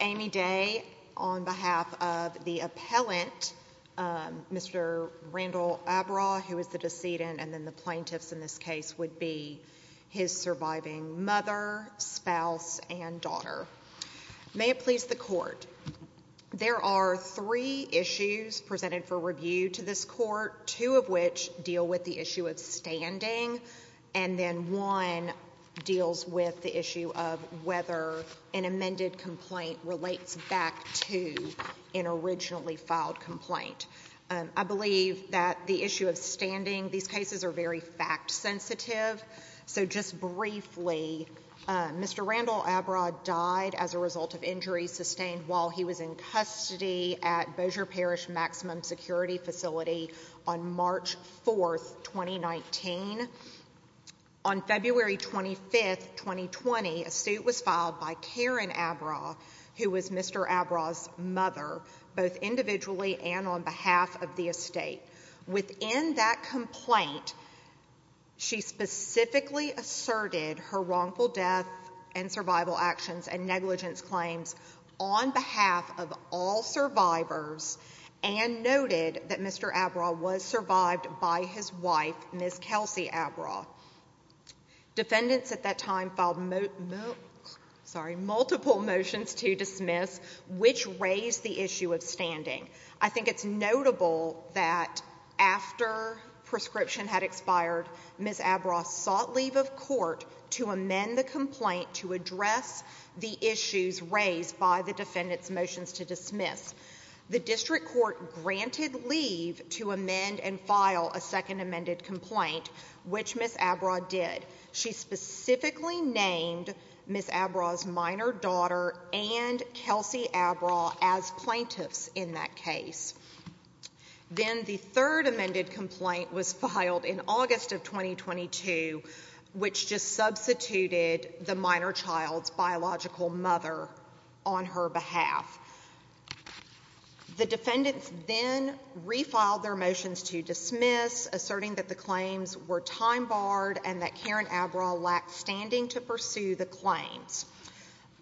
Amy Day on behalf of the appellant, Mr. Randall Abraugh, who is the decedent, and then the plaintiffs in this case would be his surviving mother, spouse, and daughter. There are three issues presented for review to this court, two of which deal with the issue of standing, and then one deals with the issue of whether an amended complaint relates back to an originally filed complaint. I believe that the issue of standing, these cases are very fact-sensitive, so just briefly, Mr. Randall Abraugh died as a result of injuries sustained while he was in custody at Bossier Parish Maximum Security Facility on March 4th, 2019. On February 25th, 2020, a suit was filed by Karen Abraugh, who was Mr. Abraugh's mother, both individually and on behalf of the estate. Within that complaint, she specifically asserted her wrongful death and survival actions and negligence claims on behalf of all survivors and noted that Mr. Abraugh was survived by his wife, Ms. Kelsey Abraugh. Defendants at that time filed multiple motions to dismiss, which raised the issue of standing. I think it's notable that after prescription had expired, Ms. Abraugh sought leave of court to amend the complaint to address the issues raised by the defendant's motions to dismiss. The district court granted leave to amend and file a second amended complaint, which Ms. Abraugh did. She specifically named Ms. Abraugh's minor daughter and Kelsey Abraugh as plaintiffs in that case. Then the third amended complaint was filed in August of 2022, which just substituted the minor child's biological mother on her behalf. The defendants then refiled their motions to dismiss, asserting that the claims were time-barred and that Karen Abraugh lacked standing to pursue the claims.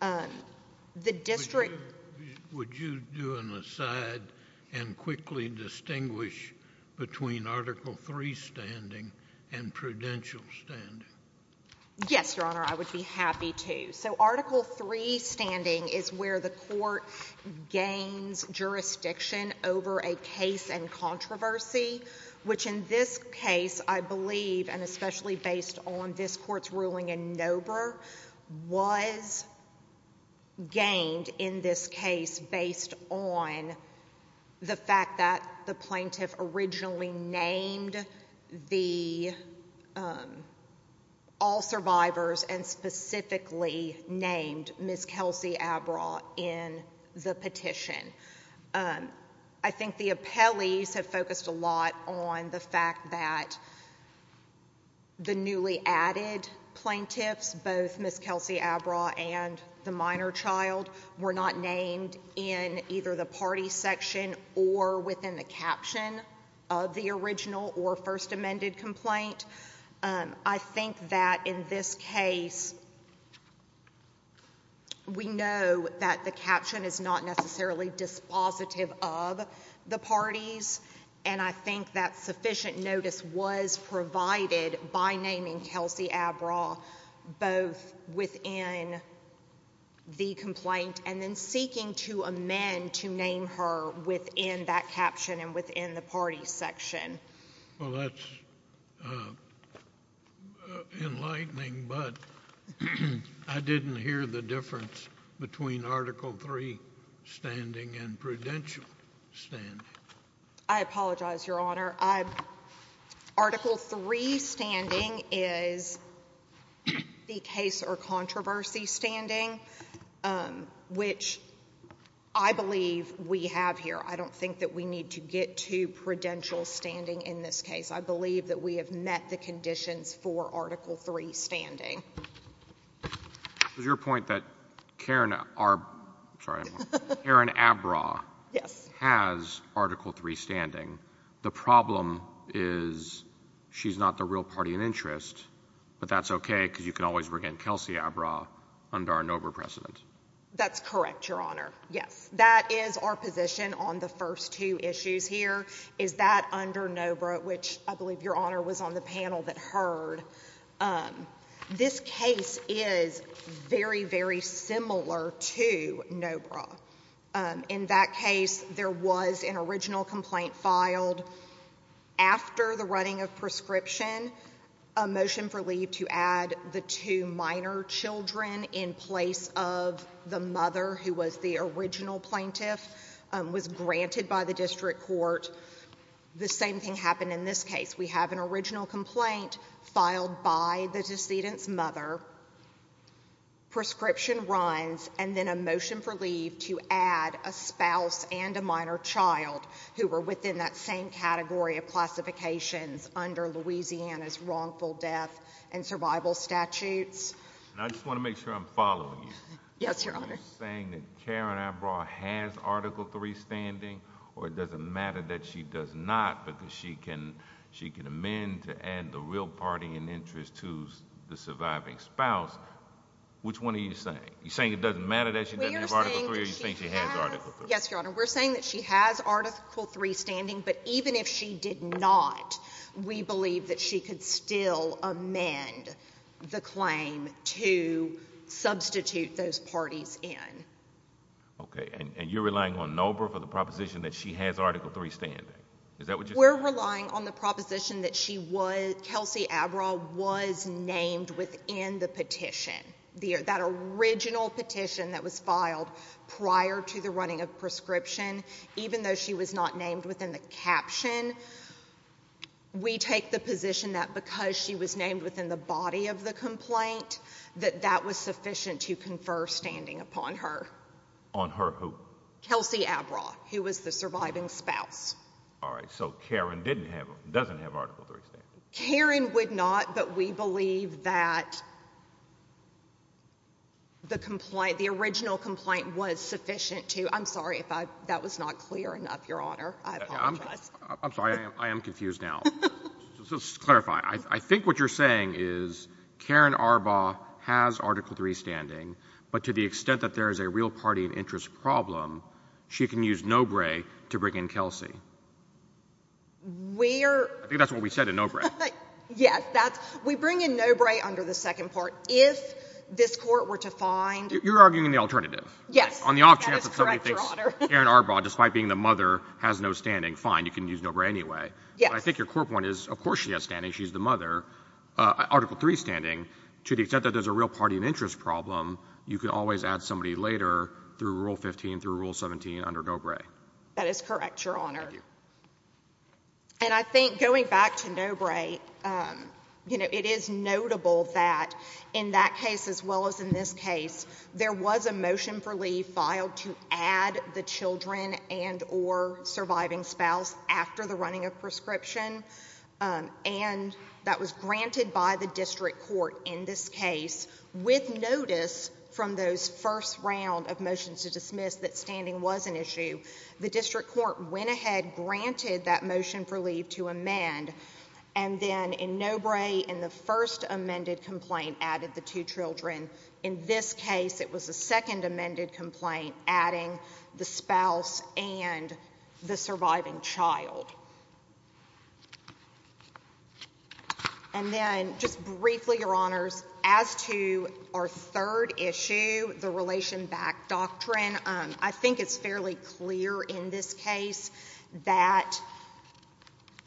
Would you do an aside and quickly distinguish between Article III standing and prudential standing? Yes, Your Honor, I would be happy to. Article III standing is where the court gains jurisdiction over a case and controversy, which in this case, I believe, and this Court's ruling in Nobre was gained in this case based on the fact that the plaintiff originally named all survivors and specifically named Ms. Kelsey Abraugh in the petition. I think the appellees have focused a lot on the fact that the newly added plaintiffs, both Ms. Kelsey Abraugh and the minor child, were not named in either the party section or within the caption of the original or first amended complaint. I think that in this case, we know that the caption is not necessarily dispositive of the parties, and I think that sufficient notice was provided by naming Kelsey Abraugh both within the complaint and then seeking to amend to name her within that caption and within the party section. Well, that's enlightening, but I didn't hear the difference between Article III standing and prudential standing. I apologize, Your Honor. Article III standing is the case or controversy standing, which I believe we have here. I don't think that we need to get to prudential standing in this case. I believe that we have met the conditions for Article III standing. It was your point that Karen Abraugh has Article III standing. The problem is she's not the real party in interest, but that's okay because you can always bring in Kelsey Abraugh under our NOBRA precedent. That's correct, Your Honor. Yes, that is our position on the first two issues here, is that under this case is very, very similar to NOBRA. In that case, there was an original complaint filed after the running of prescription, a motion for leave to add the two minor children in place of the mother who was the original plaintiff, was granted by the district court. The same thing happened in this case. We have an original complaint filed by the decedent's mother. Prescription runs and then a motion for leave to add a spouse and a minor child who were within that same category of classifications under Louisiana's wrongful death and survival statutes. I just want to make sure I'm following you. Yes, Your Honor. Saying that Karen Abraugh has Article III standing or it doesn't matter that she does not because she can amend to add the real party in interest to the surviving spouse, which one are you saying? You're saying it doesn't matter that she doesn't have Article III or you think she has Article III? Yes, Your Honor. We're saying that she has Article III standing, but even if she did not, we believe that she could still amend the claim to substitute those parties in. Okay, and you're relying on NOBRA for the proposition that she has Article III standing. Is that what you're saying? We're relying on the proposition that she was, Kelsey Abraugh, was named within the petition, that original petition that was filed prior to the running of prescription. Even though she was not named within the caption, we take the position that because she was named within the body of the complaint, that that was sufficient to confer standing upon her. On her who? Kelsey Abraugh, who was the surviving spouse. All right, so Karen didn't have, doesn't have Article III standing. Karen would not, but we believe that the complaint, the original complaint was sufficient to, I'm sorry if I, that was not clear enough, Your Honor. I apologize. I'm sorry, I am confused now. Just to clarify, I think what you're saying is Karen Arbaugh has to the extent that there is a real party and interest problem, she can use NOBRA to bring in Kelsey. We're. I think that's what we said in NOBRA. Yes, that's, we bring in NOBRA under the second part. If this Court were to find. You're arguing the alternative. Yes. On the off chance that somebody thinks Karen Arbaugh, despite being the mother, has no standing, fine, you can use NOBRA anyway. Yes. I think your core point is, of course she has standing, she's the mother, Article III standing. To the extent that there's a real party and interest problem, you can always add somebody later through Rule 15 through Rule 17 under NOBRA. That is correct, Your Honor. And I think going back to NOBRA, you know, it is notable that in that case, as well as in this case, there was a motion for leave filed to add the children and or surviving spouse after the running of prescription and that was granted by the District Court in this case with notice from those first round of motions to dismiss that standing was an issue. The District Court went ahead, granted that motion for leave to amend and then in NOBRA in the first amended complaint added the two children. In this case, it was the second amended complaint adding the spouse and the surviving child. And then just briefly, Your Honors, as to our third issue, the relation back doctrine, I think it's fairly clear in this case that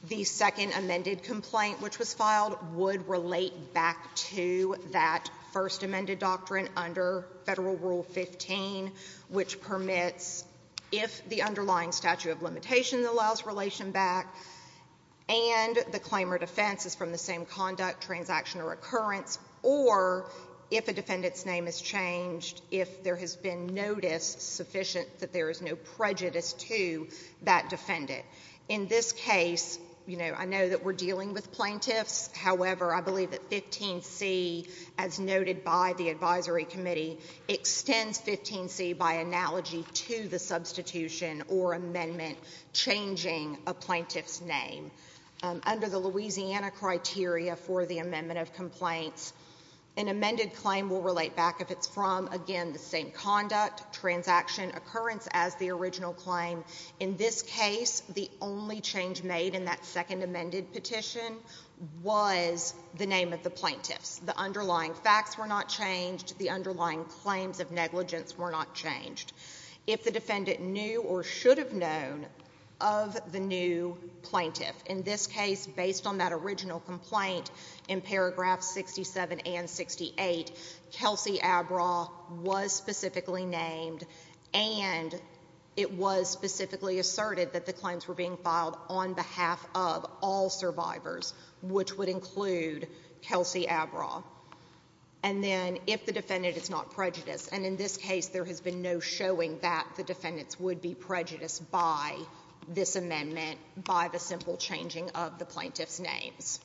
the second amended complaint which was filed would relate back to that first amended doctrine under Federal Rule 15 which permits if the underlying statute of limitation allows relation back and the recurrence or if a defendant's name is changed, if there has been notice sufficient that there is no prejudice to that defendant. In this case, you know, I know that we're dealing with plaintiffs. However, I believe that 15C as noted by the Advisory Committee extends 15C by analogy to the substitution or amendment changing a plaintiff's name. Under the Louisiana criteria for the amendment of complaints, an amended claim will relate back if it's from, again, the same conduct, transaction, occurrence as the original claim. In this case, the only change made in that second amended petition was the name of the plaintiffs. The underlying facts were not changed. The underlying claims of negligence were not changed. If the defendant knew or should have known of the new plaintiff, in this case, based on that original complaint in paragraph 67 and 68, Kelsey Abra was specifically named and it was specifically asserted that the claims were being filed on behalf of all survivors, which would include Kelsey Abra. And then if the defendant is not prejudiced. And in this case, there has been no showing that the defendants would be prejudiced by this amendment, by the simple changing of the plaintiff's names.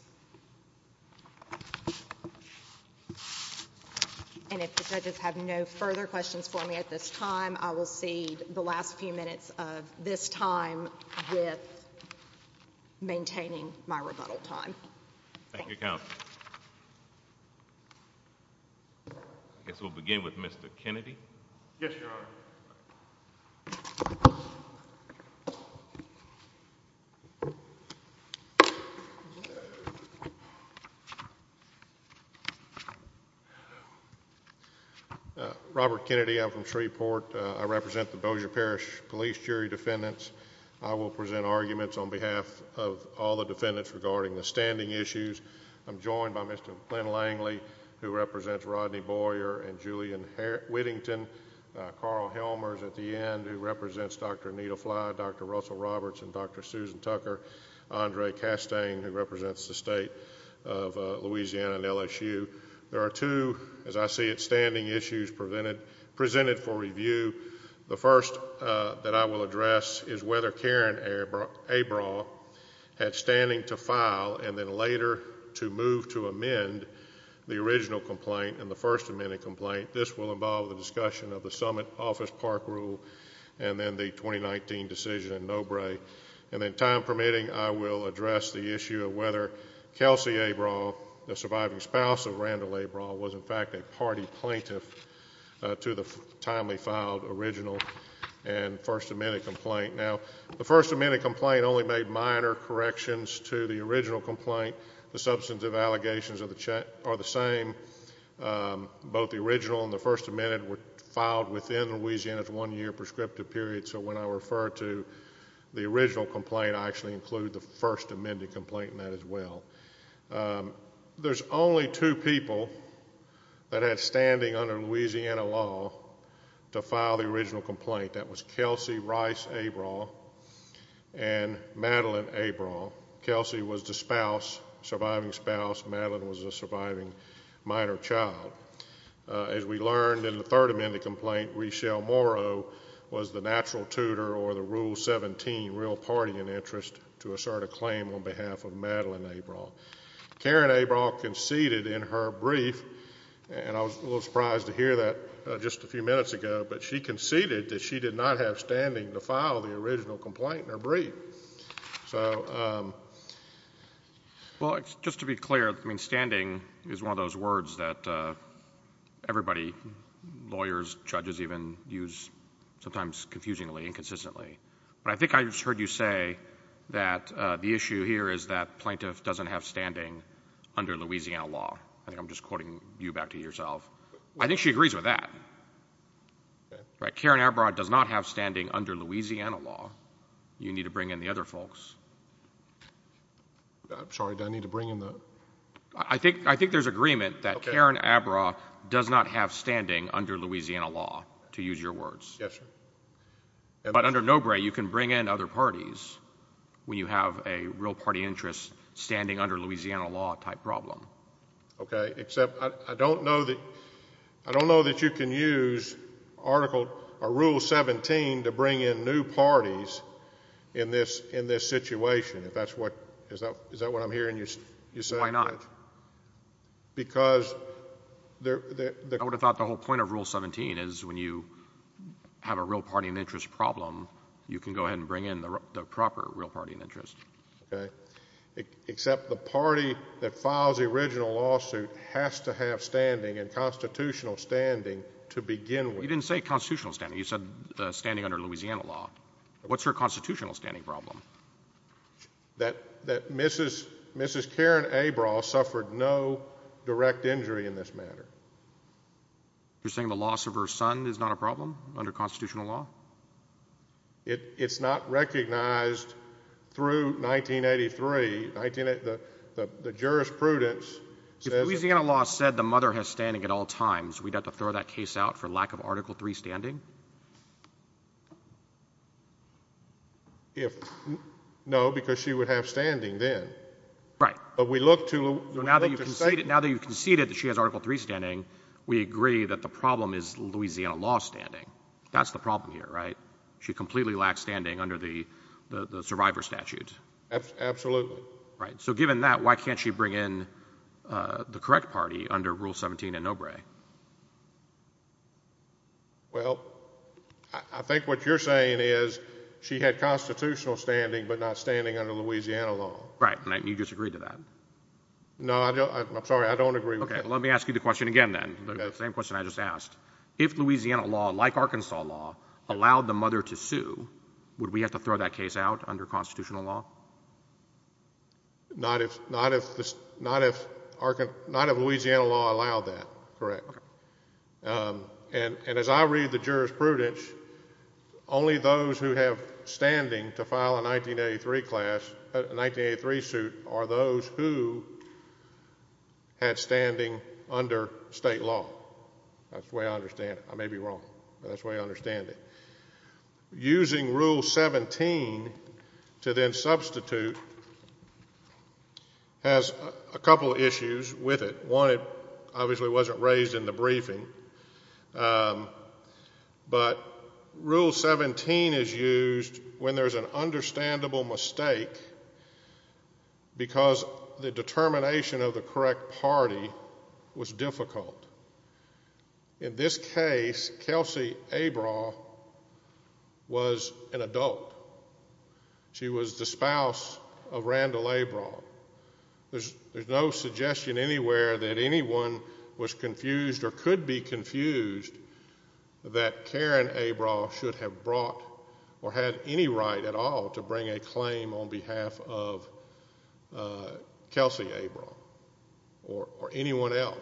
And if the judges have no further questions for me at this time, I will cede the last few minutes of this time with maintaining my rebuttal time. Thank you, Counsel. I guess we'll begin with Mr. Kennedy. Yes, Your Honor. Robert Kennedy. I'm from Shreveport. I represent the Bossier Parish Police Jury Defendants. I will present arguments on behalf of all the defendants regarding the standing issues. I'm joined by Mr. Glenn Langley, who represents Rodney Boyer and Julian Whittington, Carl Helmers at the end, who represents Dr. Anita Fly, Dr. Russell Roberts, and Dr. Susan Tucker, Andre Castane, who represents the State of Louisiana and LSU. There are two, as I see it, standing issues presented for review. The first that I will address is whether Karen Abram had standing to file and then later to move to amend the original complaint and the first amended complaint. This will involve the discussion of the Summit Office Park Rule and then the 2019 decision in Nobrae. And then, time permitting, I will address the issue of whether Kelsey Abram, the plaintiff, to the timely filed original and first amended complaint. Now, the first amended complaint only made minor corrections to the original complaint. The substantive allegations are the same. Both the original and the first amended were filed within Louisiana's one-year prescriptive period. So when I refer to the original complaint, I actually include the first amended complaint in that as well. There's only two people that had standing under Louisiana law to file the original complaint. That was Kelsey Rice Abram and Madeline Abram. Kelsey was the spouse, surviving spouse. Madeline was a surviving minor child. As we learned in the third amended complaint, Reshel Morrow was the natural tutor or the Rule 17 real party in interest to assert a claim in behalf of Madeline Abram. Karen Abram conceded in her brief, and I was a little surprised to hear that just a few minutes ago, but she conceded that she did not have standing to file the original complaint in her brief. So... Well, just to be clear, I mean, standing is one of those words that everybody, lawyers, judges even, use sometimes confusingly, inconsistently. But I think I just heard you say that the issue here is that plaintiff doesn't have standing under Louisiana law. I think I'm just quoting you back to yourself. I think she agrees with that. Karen Abram does not have standing under Louisiana law. You need to bring in the other folks. I'm sorry, do I need to bring in the... I think I think there's agreement that Karen Abram does not have standing under Louisiana law, to use your words. Yes, sir. But under Nobre, you can bring in other parties when you have a real party interest standing under Louisiana law type problem. Okay, except I don't know that... I don't know that you can use Article... or Rule 17 to bring in new parties in this situation, if that's what... is that what I'm hearing you say? Why not? Because... I would have thought the whole point of Rule 17 is when you have a real party and interest problem, you can go ahead and bring in the proper real party and interest. Okay, except the party that files the original lawsuit has to have standing and constitutional standing to begin with. You didn't say constitutional standing. You said standing under Louisiana law. What's her constitutional standing problem? That Mrs. Karen Abram suffered no direct injury in this matter. You're saying the loss of her son is not a problem under constitutional law? It's not recognized through 1983. The jurisprudence says... If Louisiana law said the mother has standing at all times, we'd have to throw that case out for lack of Article 3 standing? If... no, because she would have standing then. Right. But we look to... Now that you've conceded that she has Article 3 standing, we agree that the problem is Louisiana law standing. That's the problem here, right? She completely lacks standing under the survivor statute. Absolutely. Right. So given that, why can't she bring in the correct party under Rule 17 in Obrey? Well, I think what you're saying is she had constitutional standing but not standing under Louisiana law. Right, and you disagree to that? No, I'm sorry, I don't agree with that. Okay, let me ask you the question again then, the same question I just asked. If Louisiana law, like Arkansas law, allowed the mother to sue, would we have to throw that case out under constitutional law? Not if Louisiana law allowed that, correct. And as I read the jurisprudence, only those who have standing to file a 1983 class... a under state law. That's the way I understand it. I may be wrong, but that's the way I understand it. Using Rule 17 to then substitute has a couple issues with it. One, it obviously wasn't raised in the briefing, but Rule 17 is used when there's an understandable mistake because the determination of the correct party was difficult. In this case, Kelsey Abrah was an adult. She was the spouse of Randall Abrah. There's no suggestion anywhere that anyone was confused or could be confused that Karen Abrah should have brought or had any right at all to bring a claim on behalf of Kelsey Abrah or anyone else.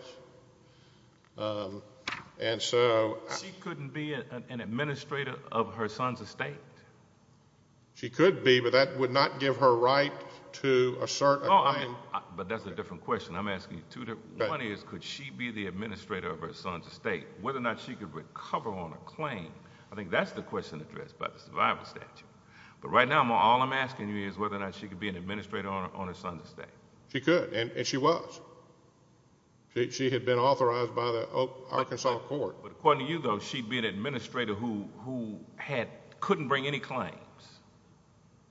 She couldn't be an administrator of her son's estate? She could be, but that would not give her right to assert a claim. No, but that's a different question. I'm asking you two different... one is, could she be the administrator of her son's estate? Whether or not she could recover on a claim, I think that's the question addressed by the survival statute. Right now, all I'm asking you is whether or not she could be an administrator on her son's estate. She could, and she was. She had been authorized by the Arkansas court. According to you, though, she'd be an administrator who couldn't bring any claims.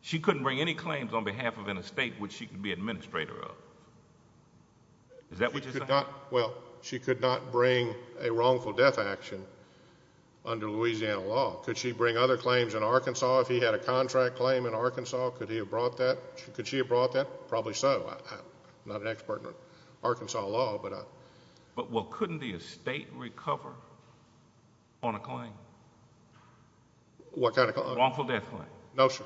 She couldn't bring any claims on behalf of an estate which she could be administrator of. Is that what you're saying? She could not bring a wrongful death action under Louisiana law. Could she bring other claims in Arkansas? If he had a contract claim in Arkansas, could he have brought that? Could she have brought that? Probably so. I'm not an expert in Arkansas law, but... Couldn't the estate recover on a claim? What kind of claim? Wrongful death claim. No, sir.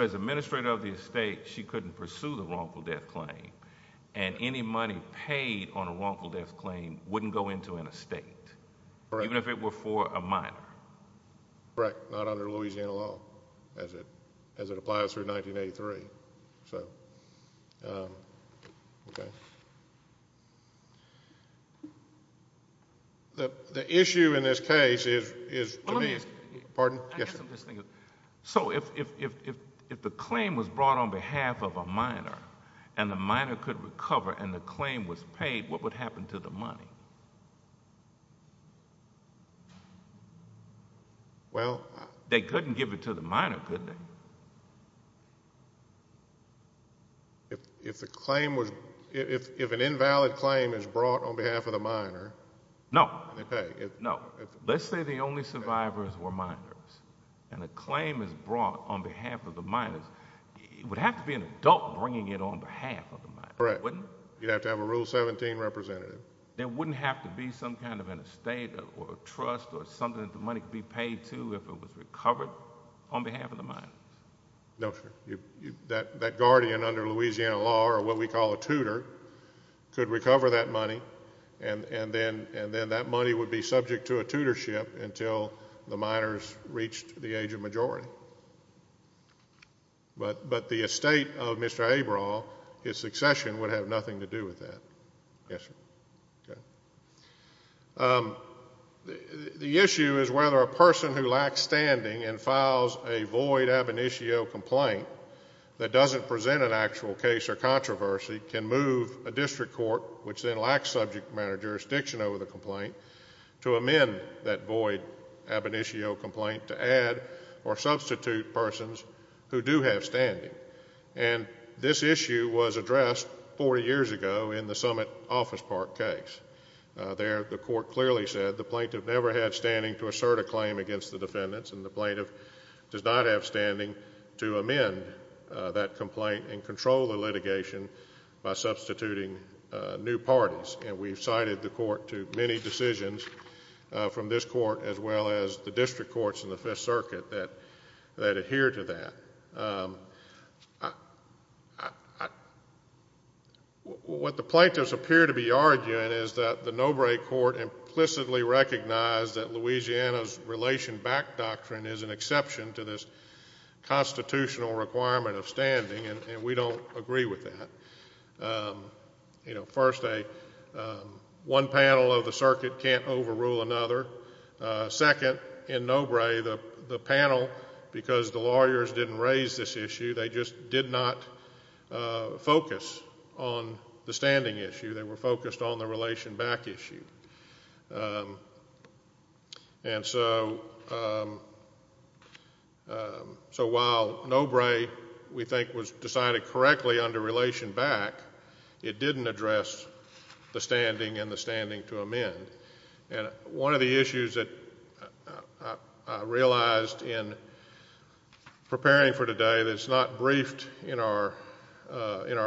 As administrator of the estate, she couldn't pursue the wrongful death claim, and any money paid on a wrongful death claim wouldn't go into an estate, even if it were for a minor. Correct. Not under Louisiana law, as it applies through 1983. The issue in this case is... Well, let me explain. Pardon? Yes, sir. I guess I'm just thinking... If the claim was brought on behalf of a minor, and the claim was paid, what would happen to the money? They couldn't give it to the minor, could they? If an invalid claim is brought on behalf of the minor... No.... and they pay. No. Let's say the only survivors were minors, and a claim is brought on behalf of the minors. It would have to be an adult bringing it on behalf of the minors, wouldn't it? You'd have to have a Rule 17 representative. There wouldn't have to be some kind of an estate, or a trust, or something that the money could be paid to if it was recovered on behalf of the minors? No, sir. That guardian under Louisiana law, or what we call a tutor, could recover that money, and then that money would be subject to a tutorship until the minors reached the Yes, sir. The issue is whether a person who lacks standing and files a void ab initio complaint that doesn't present an actual case or controversy can move a district court, which then lacks subject matter jurisdiction over the complaint, to amend that void ab initio complaint to add or substitute persons who do have standing. And this issue was addressed 40 years ago in the Summit Office Park case. There, the court clearly said the plaintiff never had standing to assert a claim against the defendants, and the plaintiff does not have standing to amend that complaint and control the litigation by substituting new parties. And we've cited the court to many decisions from this court as well as the district courts in the Fifth Circuit that adhere to that. What the plaintiffs appear to be arguing is that the Nobre Court implicitly recognized that Louisiana's relation back doctrine is an exception to this constitutional requirement of standing, and we don't agree with that. You know, first, one panel of the circuit can't overrule another. Second, in Nobre, the panel, because the lawyers didn't raise this issue, they just did not focus on the standing issue. They were focused on the relation back issue. And so while Nobre, we think, was decided correctly under relation back, it didn't address the standing and the standing to amend. And one of the issues that I realized in preparing for today that's not briefed in our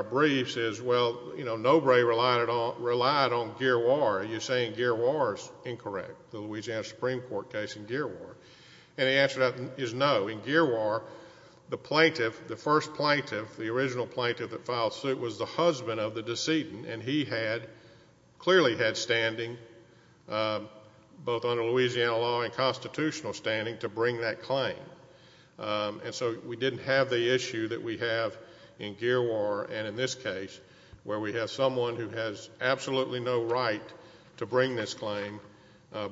briefs is, well, you know, Nobre relied on Giroir. Are you saying Giroir is incorrect, the Louisiana Supreme Court case in Giroir? And the answer to that is no. In Giroir, the plaintiff, the first plaintiff, the original husband of the decedent, and he had, clearly had standing, both under Louisiana law and constitutional standing, to bring that claim. And so we didn't have the issue that we have in Giroir and in this case, where we have someone who has absolutely no right to bring this claim,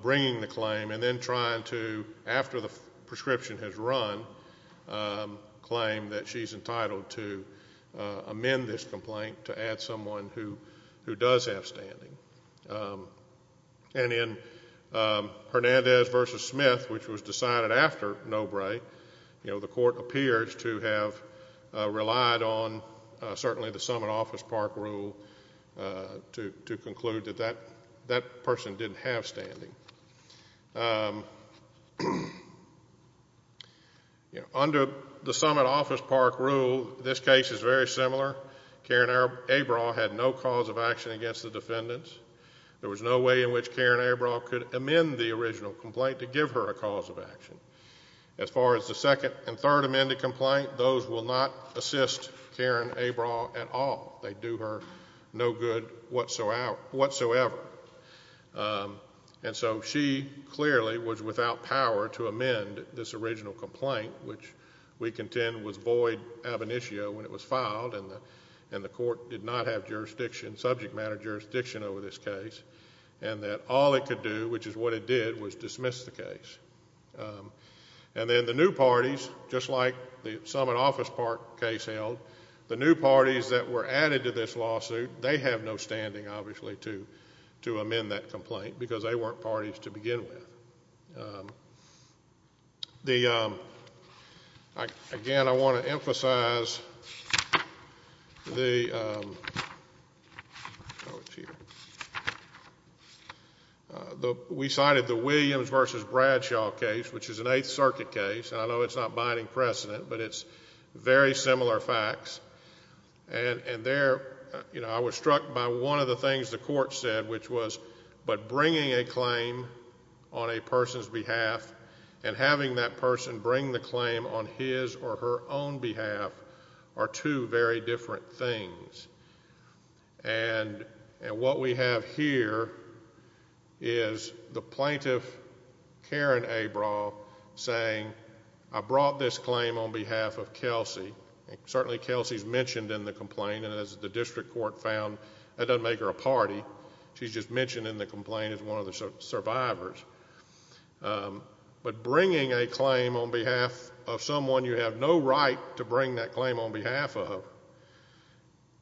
bringing the claim, and then trying to, after the prescription has run, claim that she's entitled to amend this complaint to add someone who does have standing. And in Hernandez v. Smith, which was decided after Nobre, you know, the court appears to have relied on certainly the summit office park rule to conclude that that person didn't have standing. And under the summit office park rule, this case is very similar. Karen Abraha had no cause of action against the defendants. There was no way in which Karen Abraha could amend the original complaint to give her a cause of action. As far as the second and third amended complaint, those will not assist Karen Abraha at all. They do her no good whatsoever. And so she clearly was without power to amend this original complaint, which we contend was void ab initio when it was filed, and the court did not have jurisdiction, subject matter jurisdiction, over this case, and that all it could do, which is what it did, was dismiss the case. And then the new parties, just like the summit office park case held, the new parties that were added to this lawsuit, they have no standing, obviously, to amend that complaint, because they weren't parties to begin with. Again, I want to make sure I want to emphasize the, we cited the Williams v. Bradshaw case, which is an Eighth Circuit case, and I know it's not binding precedent, but it's very similar facts. And there, you know, I was struck by one of the things the court said, which was, but bringing a claim on a person's behalf, and having that person bring the claim on his or her own behalf, are two very different things. And what we have here is the plaintiff, Karen Abraha, saying, I brought this claim on behalf of Kelsey, and certainly Kelsey's mentioned in the complaint, and as the district court found, that doesn't make her a party. She's just one of the drivers. But bringing a claim on behalf of someone you have no right to bring that claim on behalf of,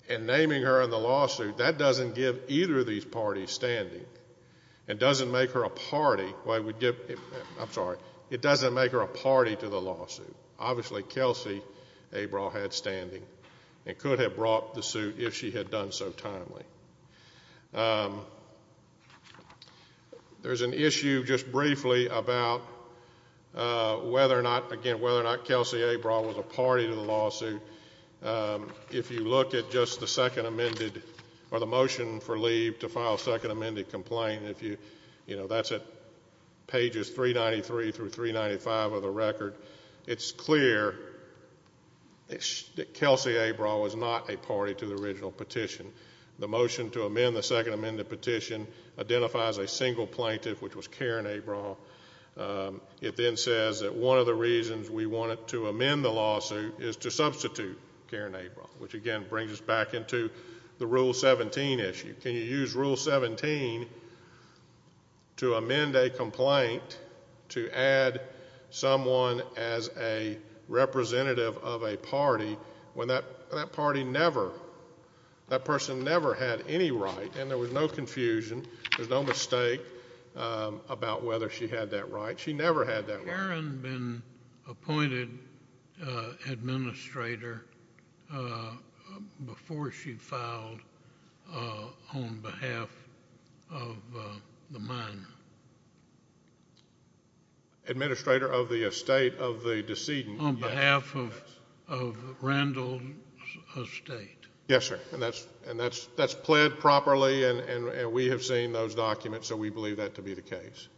and naming her in the lawsuit, that doesn't give either of these parties standing. It doesn't make her a party, I'm sorry, it doesn't make her a party to the lawsuit. Obviously, Kelsey Abraha had standing, and could have brought the suit if she had done so timely. There's an issue, just briefly, about whether or not, again, whether or not Kelsey Abraha was a party to the lawsuit. If you look at just the second amended, or the motion for leave to file a second amended complaint, if you, you know, that's at pages 393 through 395 of the record, it's clear that Kelsey Abraha was not a party to the original petition. The motion to amend the second amended petition identifies a single plaintiff, which was Karen Abraha. It then says that one of the reasons we wanted to amend the lawsuit is to substitute Karen Abraha, which again brings us back into the Rule 17 issue. Can you use Rule 17 to amend a complaint to add someone as a representative of a party when that party never, that person never had any right, and there was no confusion, there was no mistake about whether she had that right. She never had that right. Karen had been appointed administrator before she filed on behalf of the mine. Administrator of the estate of the decedent. On behalf of, of Randall's estate. Yes, sir. And that's, and that's, that's pled properly, and, and, and we have seen those documents, so we believe that to be the case.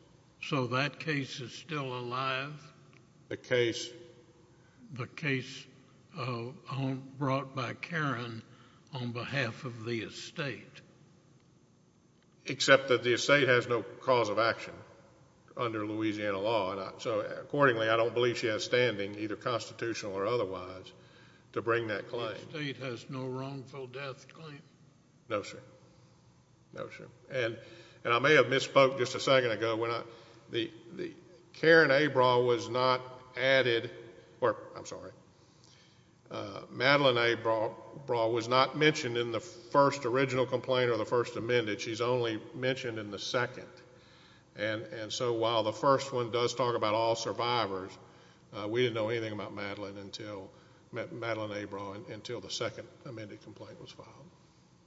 So that case is still alive? The case. The case brought by Karen on behalf of the estate. Except that the estate has no cause of action under Louisiana law, why not? So accordingly, I don't believe she has standing, either constitutional or otherwise, to bring that claim. The estate has no wrongful death claim? No, sir. No, sir. And, and I may have misspoke just a second ago when I, the, the Karen Abraha was not added, or, I'm sorry, Madeline Abraha was not mentioned in the first original complaint or the first talk about all survivors. We didn't know anything about Madeline until, Madeline Abraha until the second amended complaint was filed.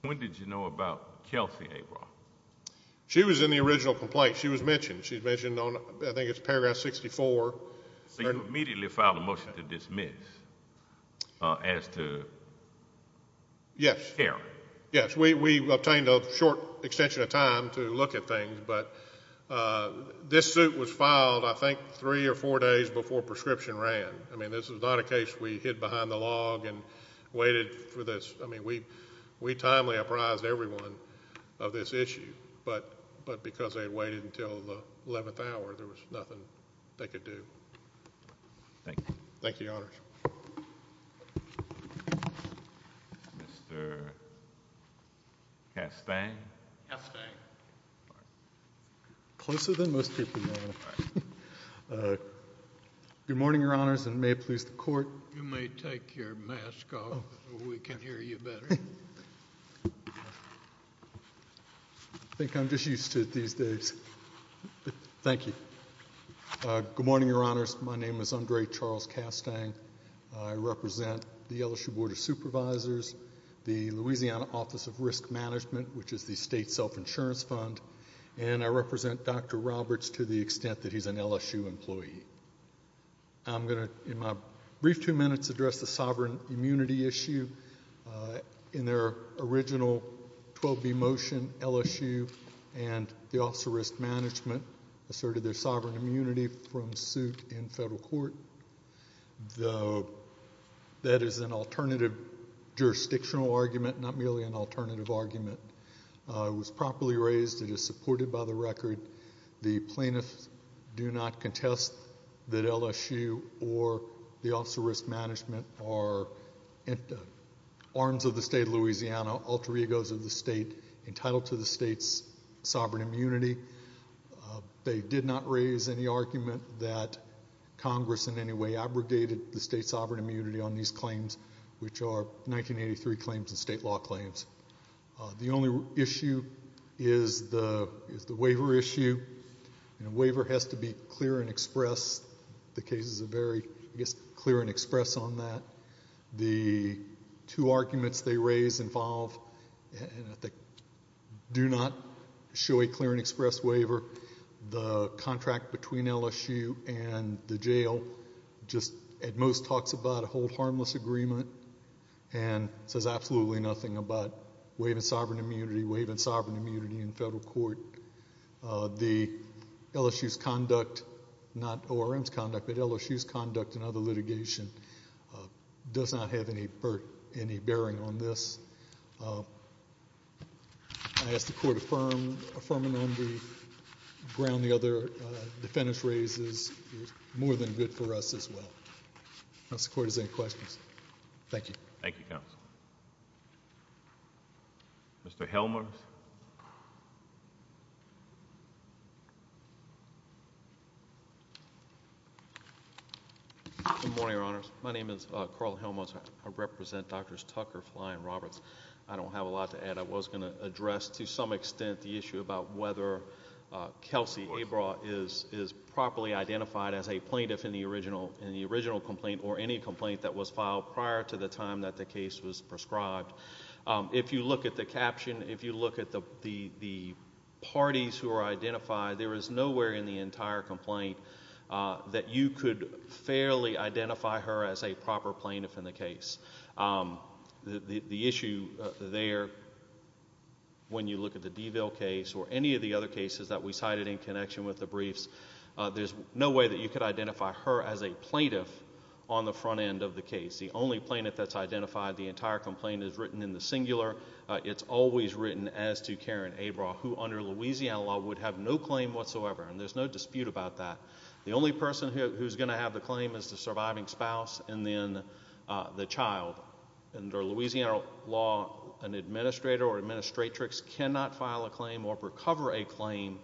When did you know about Kelsey Abraha? She was in the original complaint. She was mentioned. She's mentioned on, I think it's paragraph 64. So you immediately filed a motion to dismiss as to Karen? Yes. Yes, we, we obtained a short extension of time to look at things, but this suit was filed, I think, three or four days before prescription ran. I mean, this is not a case we hid behind the log and waited for this. I mean, we, we timely apprised everyone of this issue, but, but because they had waited until the 11th hour, there was nothing they could do. Thank you. Thank you, Your Honors. Mr. Castang? Castang. Closer than most people know. Good morning, Your Honors, and may it please the Court. You may take your mask off so we can hear you better. I think I'm just used to it these days. Thank you. Good morning, Your Honors. My name is Andre Charles Castang. I represent the LSU Board of Supervisors, the Louisiana Office of Risk Management, which is the state's self-insurance fund, and I represent Dr. Roberts to the extent that he's an LSU employee. I'm going to, in my brief two minutes, address the sovereign immunity issue. In their original 12B motion, LSU and the Office of Risk Management asserted their vote. That is an alternative jurisdictional argument, not merely an alternative argument. It was properly raised. It is supported by the record. The plaintiffs do not contest that LSU or the Office of Risk Management are arms of the state of Louisiana, alter egos of the state, entitled to the state's sovereign immunity. They did not raise any abrogated state sovereign immunity on these claims, which are 1983 claims and state law claims. The only issue is the waiver issue. A waiver has to be clear and express. The cases are very clear and express on that. The two arguments they raise involve that do not show a clear and express waiver. The contract between LSU and the jail does not just, at most, talks about a hold harmless agreement and says absolutely nothing about waiving sovereign immunity, waiving sovereign immunity in federal court. The LSU's conduct, not ORM's conduct, but LSU's conduct in other litigation does not have any bearing on this. I ask the court affirm, affirm in the brief, ground the other defendants' raises, more than good for us as well. If the court has any questions. Thank you. Thank you, counsel. Mr. Helmuth. Good morning, Your Honors. My name is Carl Helmuth. I represent Drs. Tucker, Fly, and Roberts. I don't have a lot to add. I was going to address, to some extent, the issue about whether Kelsey Abra is properly identified as a plaintiff in the original complaint or any complaint that was filed prior to the time that the case was prescribed. If you look at the caption, if you look at the parties who are identified, there is nowhere in the entire complaint that you could fairly identify her as a proper plaintiff in the case. The only plaintiff that's identified in the entire complaint is written in the singular. It's always written as to Karen Abra, who under Louisiana law would have no claim whatsoever, and there's no dispute about that. The only person who's going to have the claim is the surviving spouse and then the child. Under Louisiana law, an administrator or administratrix cannot file a claim or recover a claim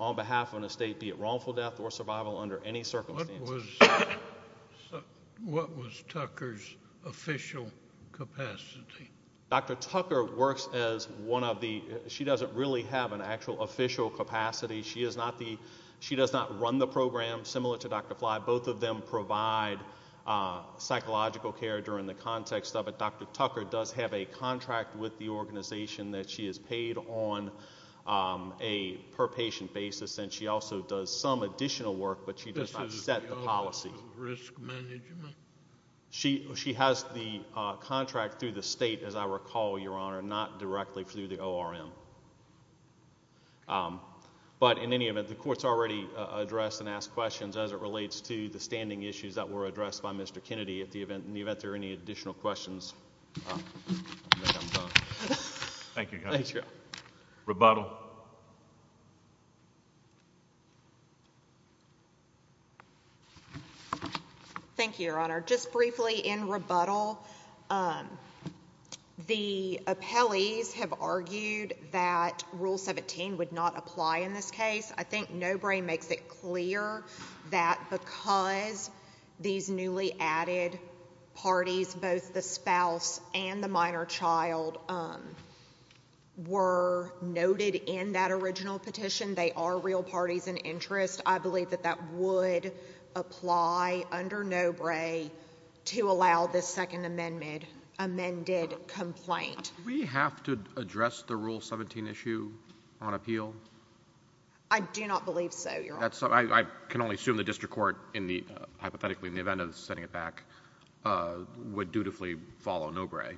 on behalf of an estate, be it wrongful death or survival under any circumstances. What was Tucker's official capacity? Dr. Tucker works as one of the, she doesn't really have an actual official capacity. She does not run the program, similar to Dr. Fly. Both of them provide psychological care during the context of it. Dr. Tucker does have a contract with the organization that she is paid on a per patient basis, and she also does some additional work, but she does not set the policy. She has the contract through the state, as I recall, Your Honor, not directly through the ORM. But in any event, the court's already addressed and asked questions as it relates to the standing issues that were addressed by Mr. Kennedy. In the event there are any additional questions, I think I'm done. Thank you, guys. Thank you. Rebuttal. Thank you, Your Honor. Just briefly, in rebuttal, the appellees have argued that Rule 17 would not apply in this case. I think Nobre makes it clear that because these newly added parties both the spouse and the minor child were noted in that original petition, they are real parties in interest. I believe that that would apply under Nobre to allow this Second Amendment amended complaint. Do we have to address the Rule 17 issue on appeal? I do not believe so, Your Honor. I can only assume the district court in the, hypothetically, in the event of sending it back, would dutifully follow Nobre.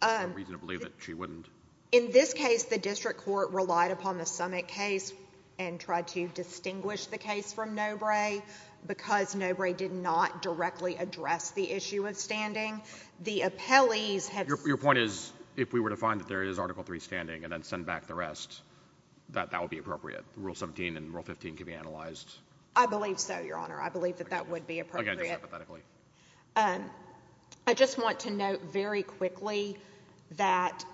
There's no reason to believe that she wouldn't. In this case, the district court relied upon the summit case and tried to distinguish the case from Nobre because Nobre did not directly address the issue of standing. The appellees have Your point is, if we were to find that there is Article 3 standing and then send back the rest, that that would be appropriate. Rule 17 and Rule 15 can be analyzed. I believe so, Your Honor. I believe that that would be appropriate. Okay, just hypothetically. I just want to note very quickly that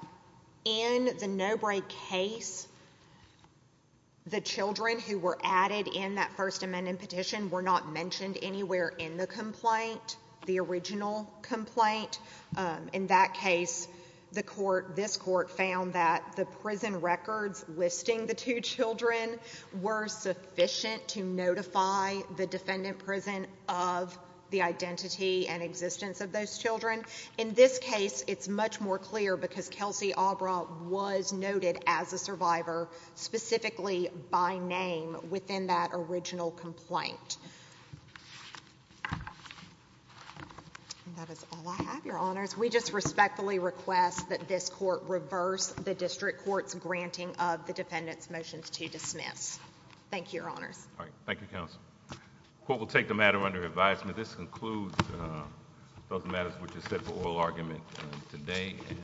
in the Nobre case, the children who were added in that First Amendment petition were not mentioned anywhere in the complaint, the original complaint. In that case, the court, this court, found that the prison records listing the two children were sufficient to notify the defendant prison of the identity and existence of those children. In this case, it's much more clear because Kelsey Obra was noted as a survivor, specifically by name, within that original complaint. That is all I have, Your Honors. We just respectfully request that this court reverse the district court's granting of the defendant's motions to dismiss. Thank you, Your Honors. Thank you, Counsel. The court will take the matter under advisement. This concludes those matters which are set for oral argument today.